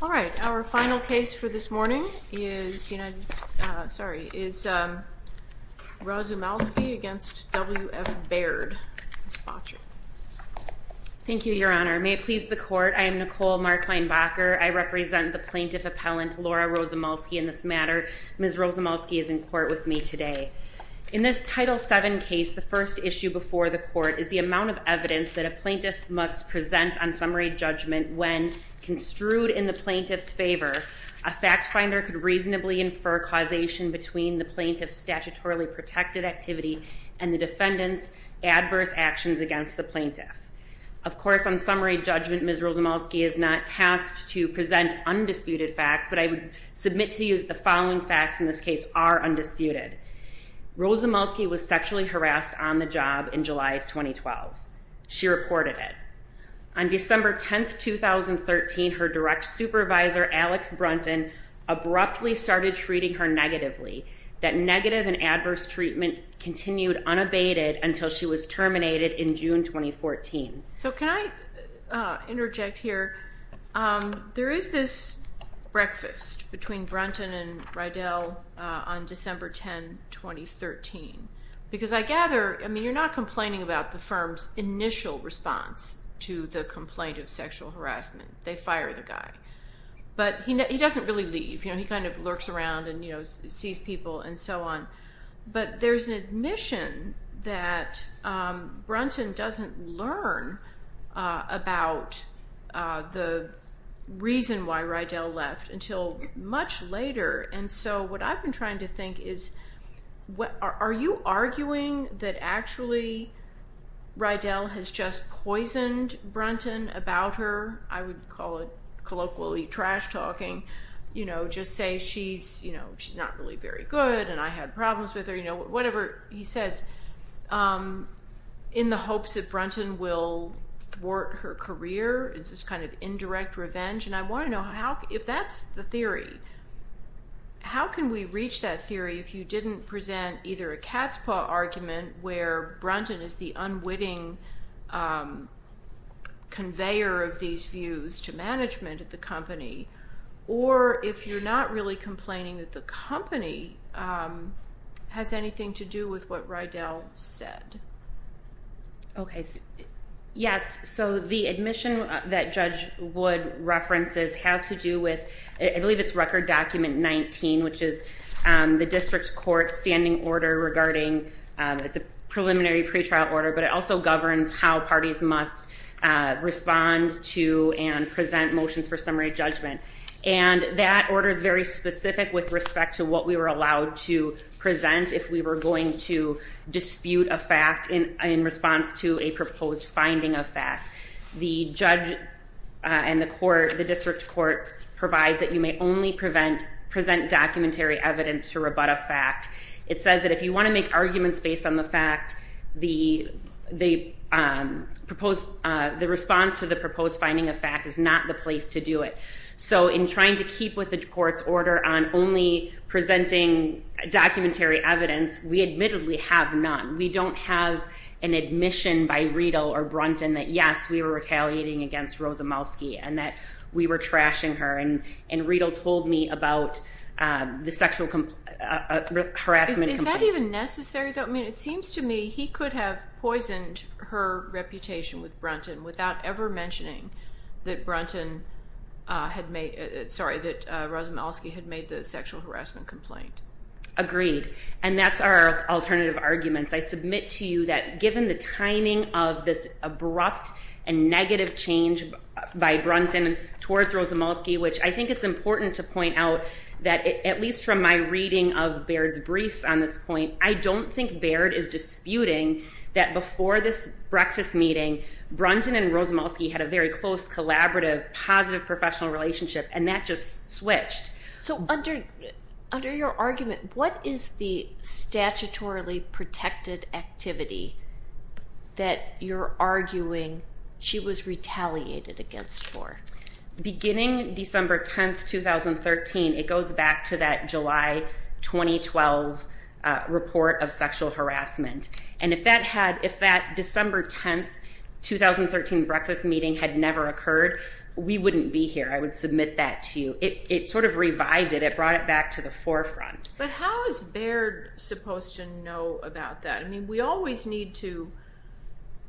All right, our final case for this morning is Rozumalski v. W.F. Baird. Ms. Botry. Thank you, Your Honor. May it please the Court, I am Nicole Markleinbacher. I represent the plaintiff appellant Laura Rozumalski in this matter. Ms. Rozumalski is in court with me today. In this Title 7 case, the first issue before the Court is the amount of evidence that a plaintiff must present on summary judgment when construed in the plaintiff's favor, a fact finder could reasonably infer causation between the plaintiff's statutorily protected activity and the defendant's adverse actions against the plaintiff. Of course, on summary judgment, Ms. Rozumalski is not tasked to present undisputed facts, but I would submit to you that the following facts in this case are undisputed. Rozumalski was sexually harassed on the job in July of 2012. She reported it. On December 10th, 2013, her direct supervisor, Alex Brunton, abruptly started treating her negatively. That negative and adverse treatment continued unabated until she was terminated in June 2014. So can I interject here? There is this breakfast between Brunton and Rydell on December 10, 2013, because I gather, I mean, you're not complaining about the firm's initial response to the complaint of sexual harassment. They fire the guy, but he doesn't really leave. He kind of lurks around and sees people and so on, but there's an admission that Brunton doesn't learn about the reason why Rydell left until much later, and so what I've been trying to think is, are you arguing that actually Rydell has just poisoned Brunton about her? I would call it colloquially trash talking. You know, just say she's not really very good, and I had problems with her, you know, whatever he says in the hopes that Brunton will thwart her career. It's this kind of indirect revenge, and I want to know if that's the theory. How can we reach that theory if you didn't present either a cat's paw argument where Brunton is the unwitting conveyor of these views to management at the company, or if you're not really complaining that the company has anything to do with what Rydell said? Okay. Yes, so the admission that Judge Wood references has to do with, I believe it's Record Document 19, which is the district court's standing order regarding, it's a preliminary pretrial order, but it also governs how parties must respond to and present motions for summary judgment, and that order is very specific with respect to what we were allowed to present if we were going to dispute a fact in response to a proposed finding of fact. The judge and the court, the district court, provides that you may only present documentary evidence to rebut a fact. It says that if you want to make arguments based on the fact, the response to the proposed finding of fact is not the place to do it. So in trying to keep with the court's order on only presenting documentary evidence, we admittedly have none. We don't have an admission by Rydell or Brunton that, yes, we were retaliating against Rosa Malski and that we were trashing her, and Rydell told me about the sexual harassment complaint. Is that even necessary, though? I mean, it seems to me he could have poisoned her reputation with Brunton without ever mentioning that Brunton had made, sorry, that Rosa Malski had made the sexual harassment complaint. Agreed, and that's our alternative arguments. I submit to you that given the timing of this abrupt and negative change by Brunton towards Rosa Malski, which I think it's important to point out that, at least from my reading of Baird's briefs on this point, I don't think Baird is disputing that before this breakfast meeting, Brunton and Rosa Malski had a very close, collaborative, positive professional relationship, and that just switched. So under your argument, what is the statutorily protected activity that you're arguing she was retaliated against for? Beginning December 10, 2013, it goes back to that July 2012 report of sexual harassment, and if that December 10, 2013 breakfast meeting had never occurred, we wouldn't be here. I would submit that to you. It sort of revived it. It brought it back to the forefront. But how is Baird supposed to know about that? I mean, we always need to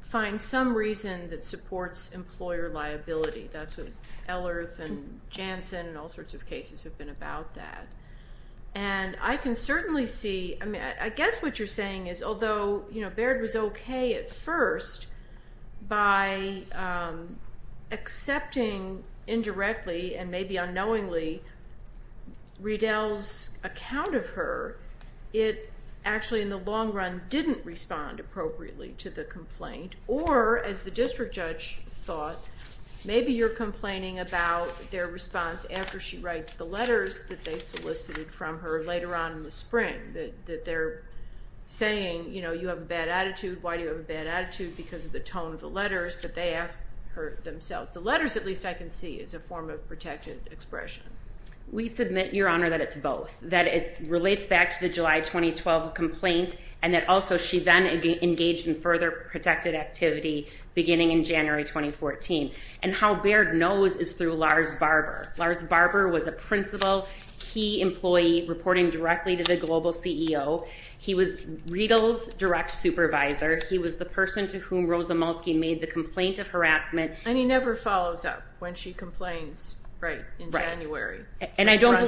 find some reason that supports employer liability. That's what Ellerth and Janssen and all sorts of cases have been about that. And I can certainly see, I guess what you're saying is, although Baird was okay at first by accepting indirectly and maybe unknowingly Riedel's account of her, it actually in the long run didn't respond appropriately to the complaint, or as the district judge thought, maybe you're complaining about their response after she writes the letters that they solicited from her later on in the spring, that they're saying, you know, you have a bad attitude, why do you have a bad attitude, because of the tone of the letters, but they ask her themselves. The letters, at least I can see, is a form of protected expression. We submit, Your Honor, that it's both. That it relates back to the July 2012 complaint, and that also she then engaged in further protected activity beginning in January 2014. And how Baird knows is through Lars Barber. Lars Barber was a principal, key employee reporting directly to the global CEO. He was Riedel's direct supervisor. He was the person to whom Rosamulski made the complaint of harassment. And he never follows up when she complains, right, in January. And I don't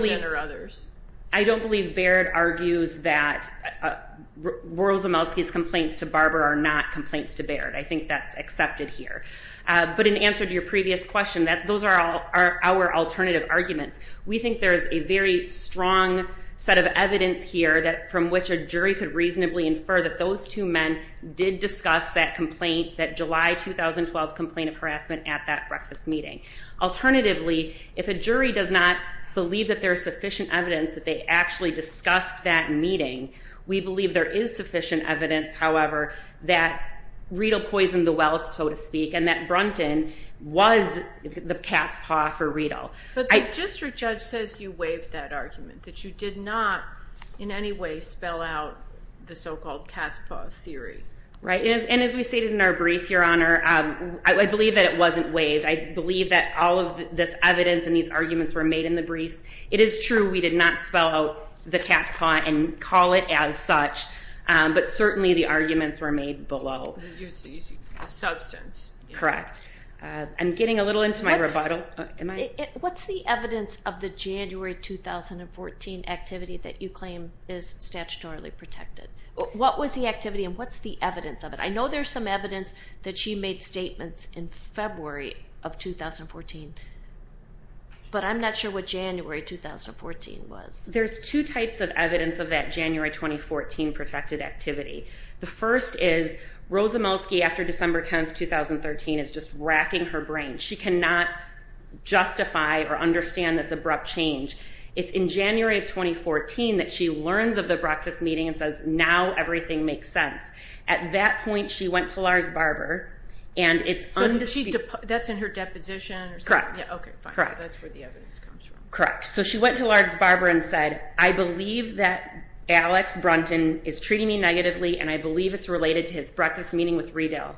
believe Baird argues that Rosamulski's complaints to Barber are not complaints to Baird. I think that's accepted here. But in answer to your previous question, those are our alternative arguments. We think there is a very strong set of evidence here from which a jury could reasonably infer that those two men did discuss that complaint, that July 2012 complaint of harassment at that breakfast meeting. Alternatively, if a jury does not believe that there is sufficient evidence that they actually discussed that meeting, we believe there is sufficient evidence, however, that the cat's paw for Riedel. But just your judge says you waived that argument, that you did not in any way spell out the so-called cat's paw theory. Right. And as we stated in our brief, Your Honor, I believe that it wasn't waived. I believe that all of this evidence and these arguments were made in the briefs. It is true we did not spell out the cat's paw and call it as such, but certainly the arguments were made below. Substance. Correct. I'm getting a little into my rebuttal. What's the evidence of the January 2014 activity that you claim is statutorily protected? What was the activity and what's the evidence of it? I know there's some evidence that she made statements in February of 2014, but I'm not sure what January 2014 was. There's two types of evidence of that January 2014 protected activity. The first is Rosamelsky after December 10th, 2013 is just racking her brain. She cannot justify or understand this abrupt change. It's in January of 2014 that she learns of the breakfast meeting and says now everything makes sense. At that point she went to Lars Barber and it's undisputed. That's in her deposition or something? Correct. Okay, fine. So that's where the evidence comes from. Correct. So she went to Lars Barber and said, I believe that Alex Brunton is treating me like Riedel.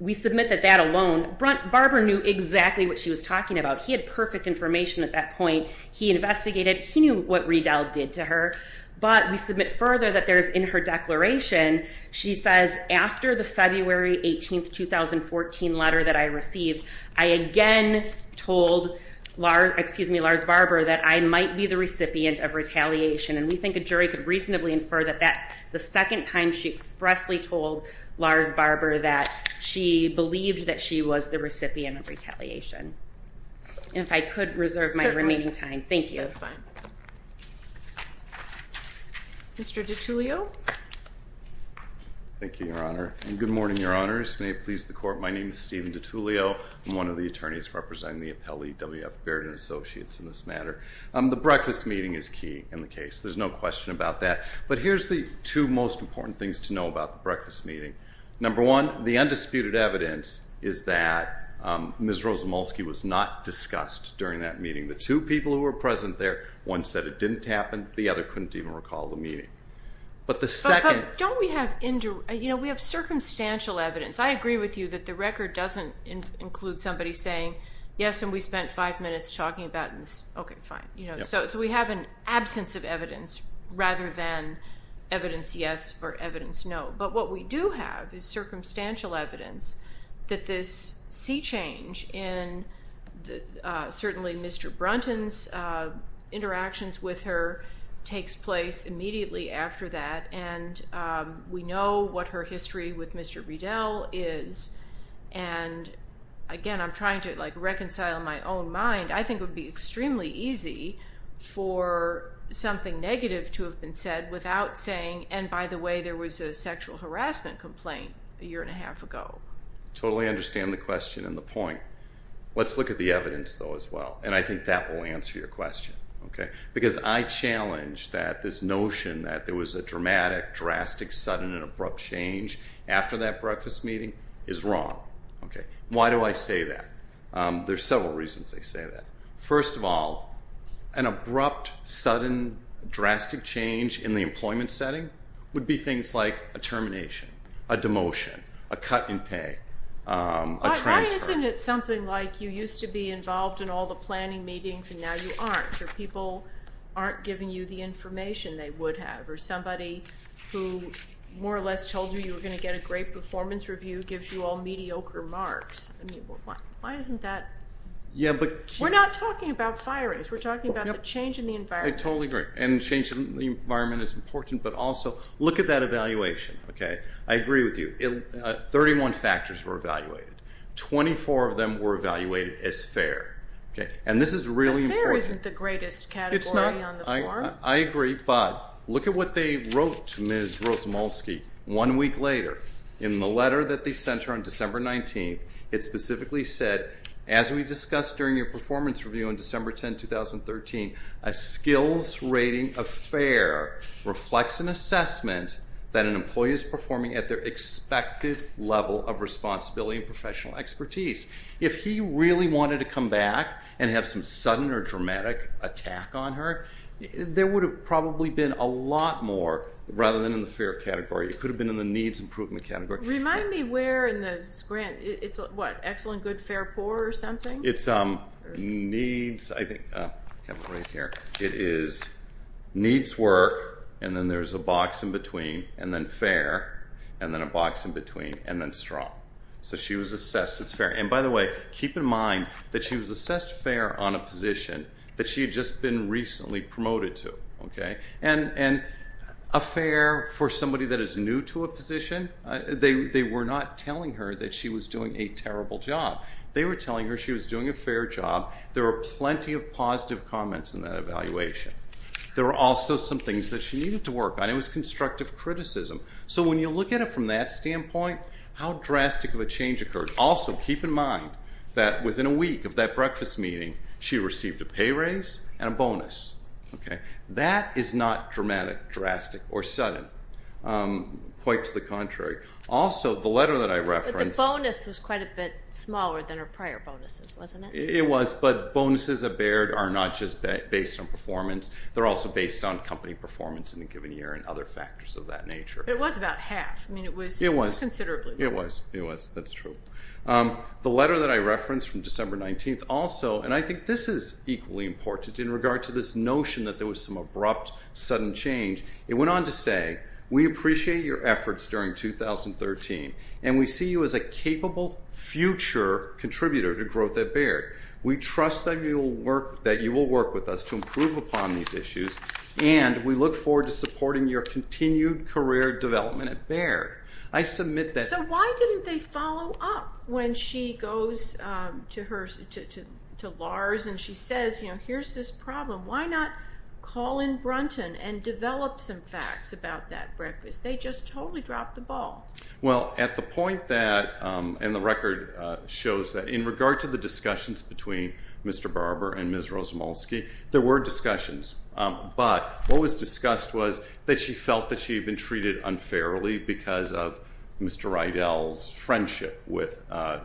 We submit that that alone, Barber knew exactly what she was talking about. He had perfect information at that point. He investigated, he knew what Riedel did to her, but we submit further that there's in her declaration, she says after the February 18th, 2014 letter that I received, I again told Lars Barber that I might be the recipient of retaliation. And we think a jury could reasonably infer that that's the second time she expressly told Lars Barber that she believed that she was the recipient of retaliation. And if I could reserve my remaining time, thank you. That's fine. Mr. DiTullio? Thank you, Your Honor. And good morning, Your Honors. May it please the court, my name is Stephen DiTullio. I'm one of the attorneys representing the Appellee W.F. Baird and Associates in this matter. The breakfast meeting is key in the case. There's no question about that. But here's the two most important things to know about the breakfast meeting. Number one, the undisputed evidence is that Ms. Rosamulski was not discussed during that meeting. The two people who were present there, one said it didn't happen, the other couldn't even recall the meeting. But the second- But don't we have, you know, we have circumstantial evidence. I agree with you that the record doesn't include somebody saying, yes, and we spent five minutes talking about this. Okay, fine. So we have an absence of evidence rather than evidence yes or evidence no. But what we do have is circumstantial evidence that this sea change in certainly Mr. Brunton's interactions with her takes place immediately after that. And we know what her history with Mr. Bredel is. And again, I'm trying to like reconcile my own mind. I think it would be extremely easy for something negative to have been said without saying, and by the way, there was a sexual harassment complaint a year and a half ago. Totally understand the question and the point. Let's look at the evidence, though, as well. And I think that will answer your question, okay? Because I challenge that this notion that there was a dramatic, drastic, sudden, and abrupt change after that breakfast meeting is wrong, okay? Why do I say that? There's several reasons I say that. First of all, an abrupt, sudden, drastic change in the employment setting would be things like a termination, a demotion, a cut in pay, a transfer. But why isn't it something like you used to be involved in all the planning meetings and now you aren't, or people aren't giving you the information they would have, or somebody who more or less told you you were going to get a great performance review gives you all mediocre marks. I mean, why isn't that? We're not talking about firings. We're talking about the change in the environment. I totally agree. And change in the environment is important, but also look at that evaluation, okay? I agree with you. 31 factors were evaluated. 24 of them were evaluated as fair, okay? And this is really important. But fair isn't the greatest category on the form. I agree, but look at what they wrote to Ms. Rozumalski one week later in the letter that they sent her on December 19th. It specifically said, as we discussed during your performance review on December 10, 2013, a skills rating of fair reflects an assessment that an employee is performing at their expected level of responsibility and professional expertise. If he really wanted to come back and have some sudden or dramatic attack on her, there would have probably been a lot more rather than in the fair category. It could have been in the needs improvement category. Remind me where in the grant. It's what? Excellent, good, fair, poor or something? It's needs, I think. I have it right here. It is needs work, and then there's a box in between, and then fair, and then a box in between, and then strong. So she was assessed as fair. And by the way, keep in mind that she was assessed fair on a position that she had just been recently promoted to. And a fair for somebody that is new to a position, they were not telling her that she was doing a terrible job. They were telling her she was doing a fair job. There were plenty of positive comments in that evaluation. There were also some things that she needed to work on. It was constructive criticism. So when you look at it from that standpoint, how drastic of a change occurred. Also, keep in mind that within a week of that breakfast meeting, she received a pay raise and a bonus. That is not dramatic, drastic, or sudden. Quite to the contrary. Also, the letter that I referenced. But the bonus was quite a bit smaller than her prior bonuses, wasn't it? It was, but bonuses are not just based on performance. They're also based on company performance in a given year and other factors of that nature. It was about half. I mean, it was considerably more. It was. It was. That's true. The letter that I referenced from December 19th also, and I think this is equally important in regard to this notion that there was some abrupt, sudden change. It went on to say, We appreciate your efforts during 2013, and we see you as a capable future contributor to Growth at Baird. We trust that you will work with us to improve upon these issues, and we look forward to supporting your continued career development at Baird. I submit that. So why didn't they follow up when she goes to Lars and she says, you know, here's this problem. Why not call in Brunton and develop some facts about that breakfast? They just totally dropped the ball. Well, at the point that, and the record shows that, in regard to the discussions between Mr. Barber and Ms. Rozumalski, there were discussions. But what was discussed was that she felt that she had been treated unfairly because of Mr. Rydell's friendship with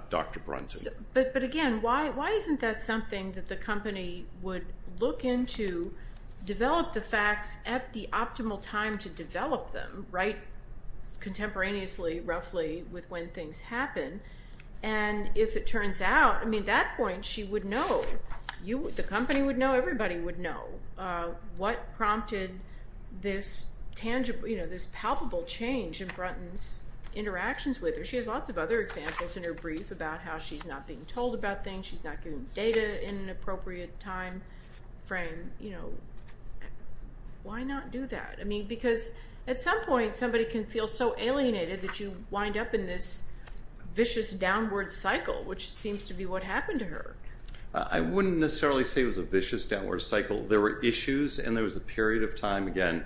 Dr. Brunton. But again, why isn't that something that the company would look into, develop the facts at the optimal time to develop them, right, contemporaneously, roughly, with when things happen? And if it turns out, I mean, at that point, she would know. The company would know. Everybody would know what prompted this tangible, you know, this palpable change in Brunton's interactions with her. She has lots of other examples in her brief about how she's not being told about things. She's not getting data in an appropriate time frame. You know, why not do that? I mean, because at some point, somebody can feel so alienated that you wind up in this vicious downward cycle, which seems to be what happened to her. I wouldn't necessarily say it was a vicious downward cycle. There were issues, and there was a period of time, again,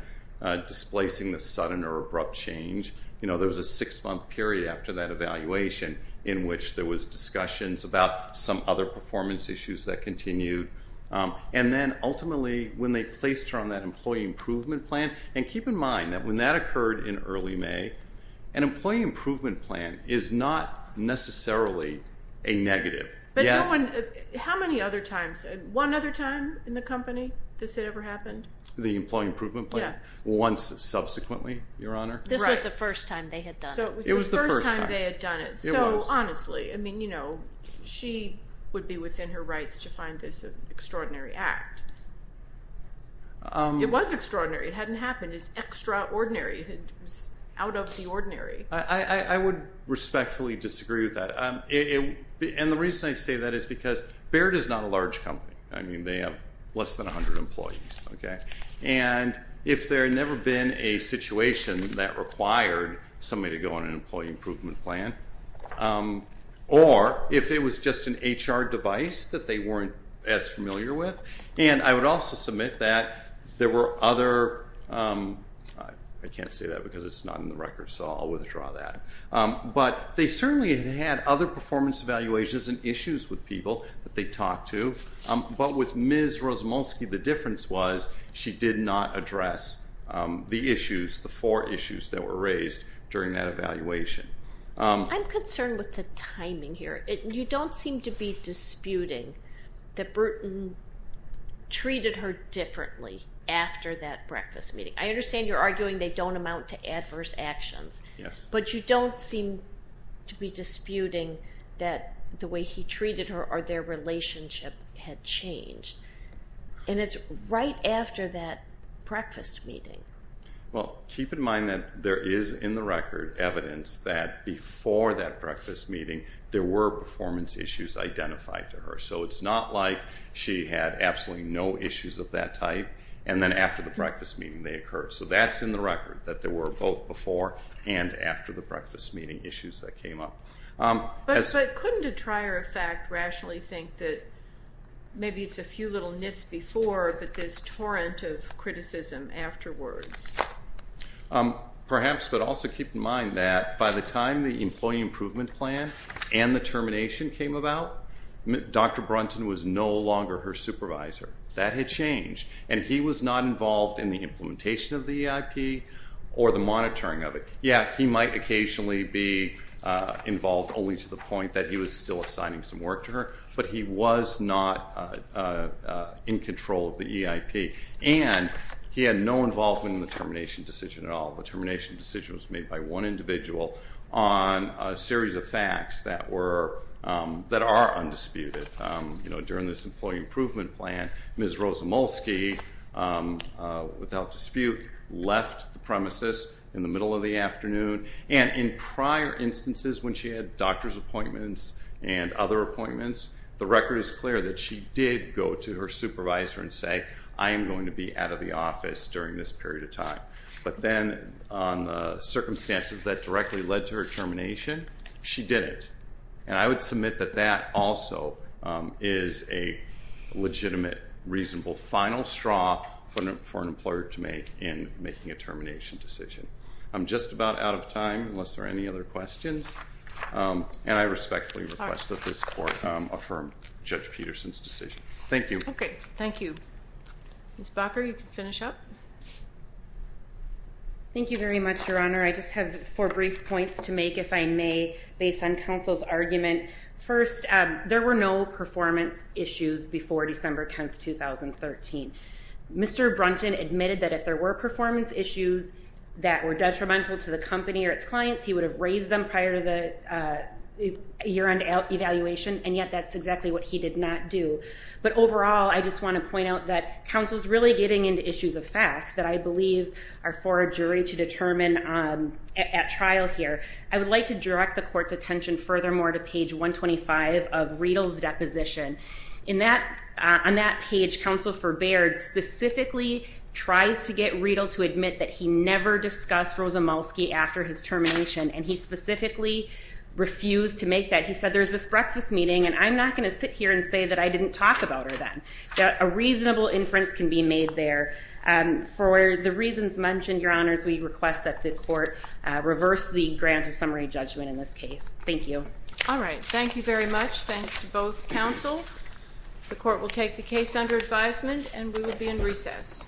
displacing this sudden or abrupt change. You know, there was a six-month period after that evaluation in which there was discussions about some other performance issues that continued. And then ultimately, when they placed her on that employee improvement plan, and keep in mind that when that occurred in early May, an employee improvement plan is not necessarily a negative. But no one, how many other times, one other time in the company this had ever happened? The employee improvement plan? Yeah. Once subsequently, Your Honor. This was the first time they had done it. It was the first time. So it was the first time they had done it. It was. Well, honestly, I mean, you know, she would be within her rights to find this an extraordinary act. It was extraordinary. It hadn't happened. It's extraordinary. It was out of the ordinary. I would respectfully disagree with that. And the reason I say that is because Barrett is not a large company. I mean, they have less than 100 employees, okay? And if there had never been a situation that required somebody to go on an employee improvement plan, or if it was just an HR device that they weren't as familiar with, and I would also submit that there were other, I can't say that because it's not in the record, so I'll withdraw that. But they certainly had had other performance evaluations and issues with people that they talked to. But with Ms. Rozumolski, the difference was she did not address the issues, the four issues that were raised during that evaluation. I'm concerned with the timing here. You don't seem to be disputing that Bruton treated her differently after that breakfast meeting. I understand you're arguing they don't amount to adverse actions. Yes. But you don't seem to be disputing that the way he treated her or their relationship had changed. And it's right after that breakfast meeting. Well, keep in mind that there is in the record evidence that before that breakfast meeting there were performance issues identified to her. So it's not like she had absolutely no issues of that type, and then after the breakfast meeting they occurred. So that's in the record, that there were both before and after the breakfast meeting issues that came up. But couldn't a trier of fact rationally think that maybe it's a few little nits before, but this torrent of criticism afterwards? Perhaps, but also keep in mind that by the time the employee improvement plan and the termination came about, Dr. Brunton was no longer her supervisor. That had changed, and he was not involved in the implementation of the EIP or the monitoring of it. Yes, he might occasionally be involved only to the point that he was still assigning some work to her, but he was not in control of the EIP, and he had no involvement in the termination decision at all. The termination decision was made by one individual on a series of facts that are undisputed. During this employee improvement plan, Ms. Rosamulski, without dispute, left the premises in the middle of the afternoon, and in prior instances when she had doctor's appointments and other appointments, the record is clear that she did go to her supervisor and say, I am going to be out of the office during this period of time. But then on the circumstances that directly led to her termination, she didn't. And I would submit that that also is a legitimate, reasonable final straw for an employer to make in making a termination decision. I'm just about out of time unless there are any other questions, and I respectfully request that this Court affirm Judge Peterson's decision. Thank you. Okay, thank you. Ms. Bakker, you can finish up. Thank you very much, Your Honor. I just have four brief points to make, if I may, based on counsel's argument. First, there were no performance issues before December 10, 2013. Mr. Brunton admitted that if there were performance issues that were detrimental to the company or its clients, he would have raised them prior to the year-end evaluation, and yet that's exactly what he did not do. But overall, I just want to point out that counsel's really getting into issues of facts that I believe are for a jury to determine at trial here. I would like to direct the Court's attention furthermore to page 125 of Riedel's deposition. On that page, counsel for Baird specifically tries to get Riedel to admit that he never discussed Rosamulski after his termination, and he specifically refused to make that. He said, there's this breakfast meeting, and I'm not going to sit here and say that I didn't talk about her then. A reasonable inference can be made there. For the reasons mentioned, Your Honors, we request that the Court reverse the grant of summary judgment in this case. Thank you. All right. Thank you very much. Thanks to both counsel. The Court will take the case under advisement, and we will be in recess. Thank you.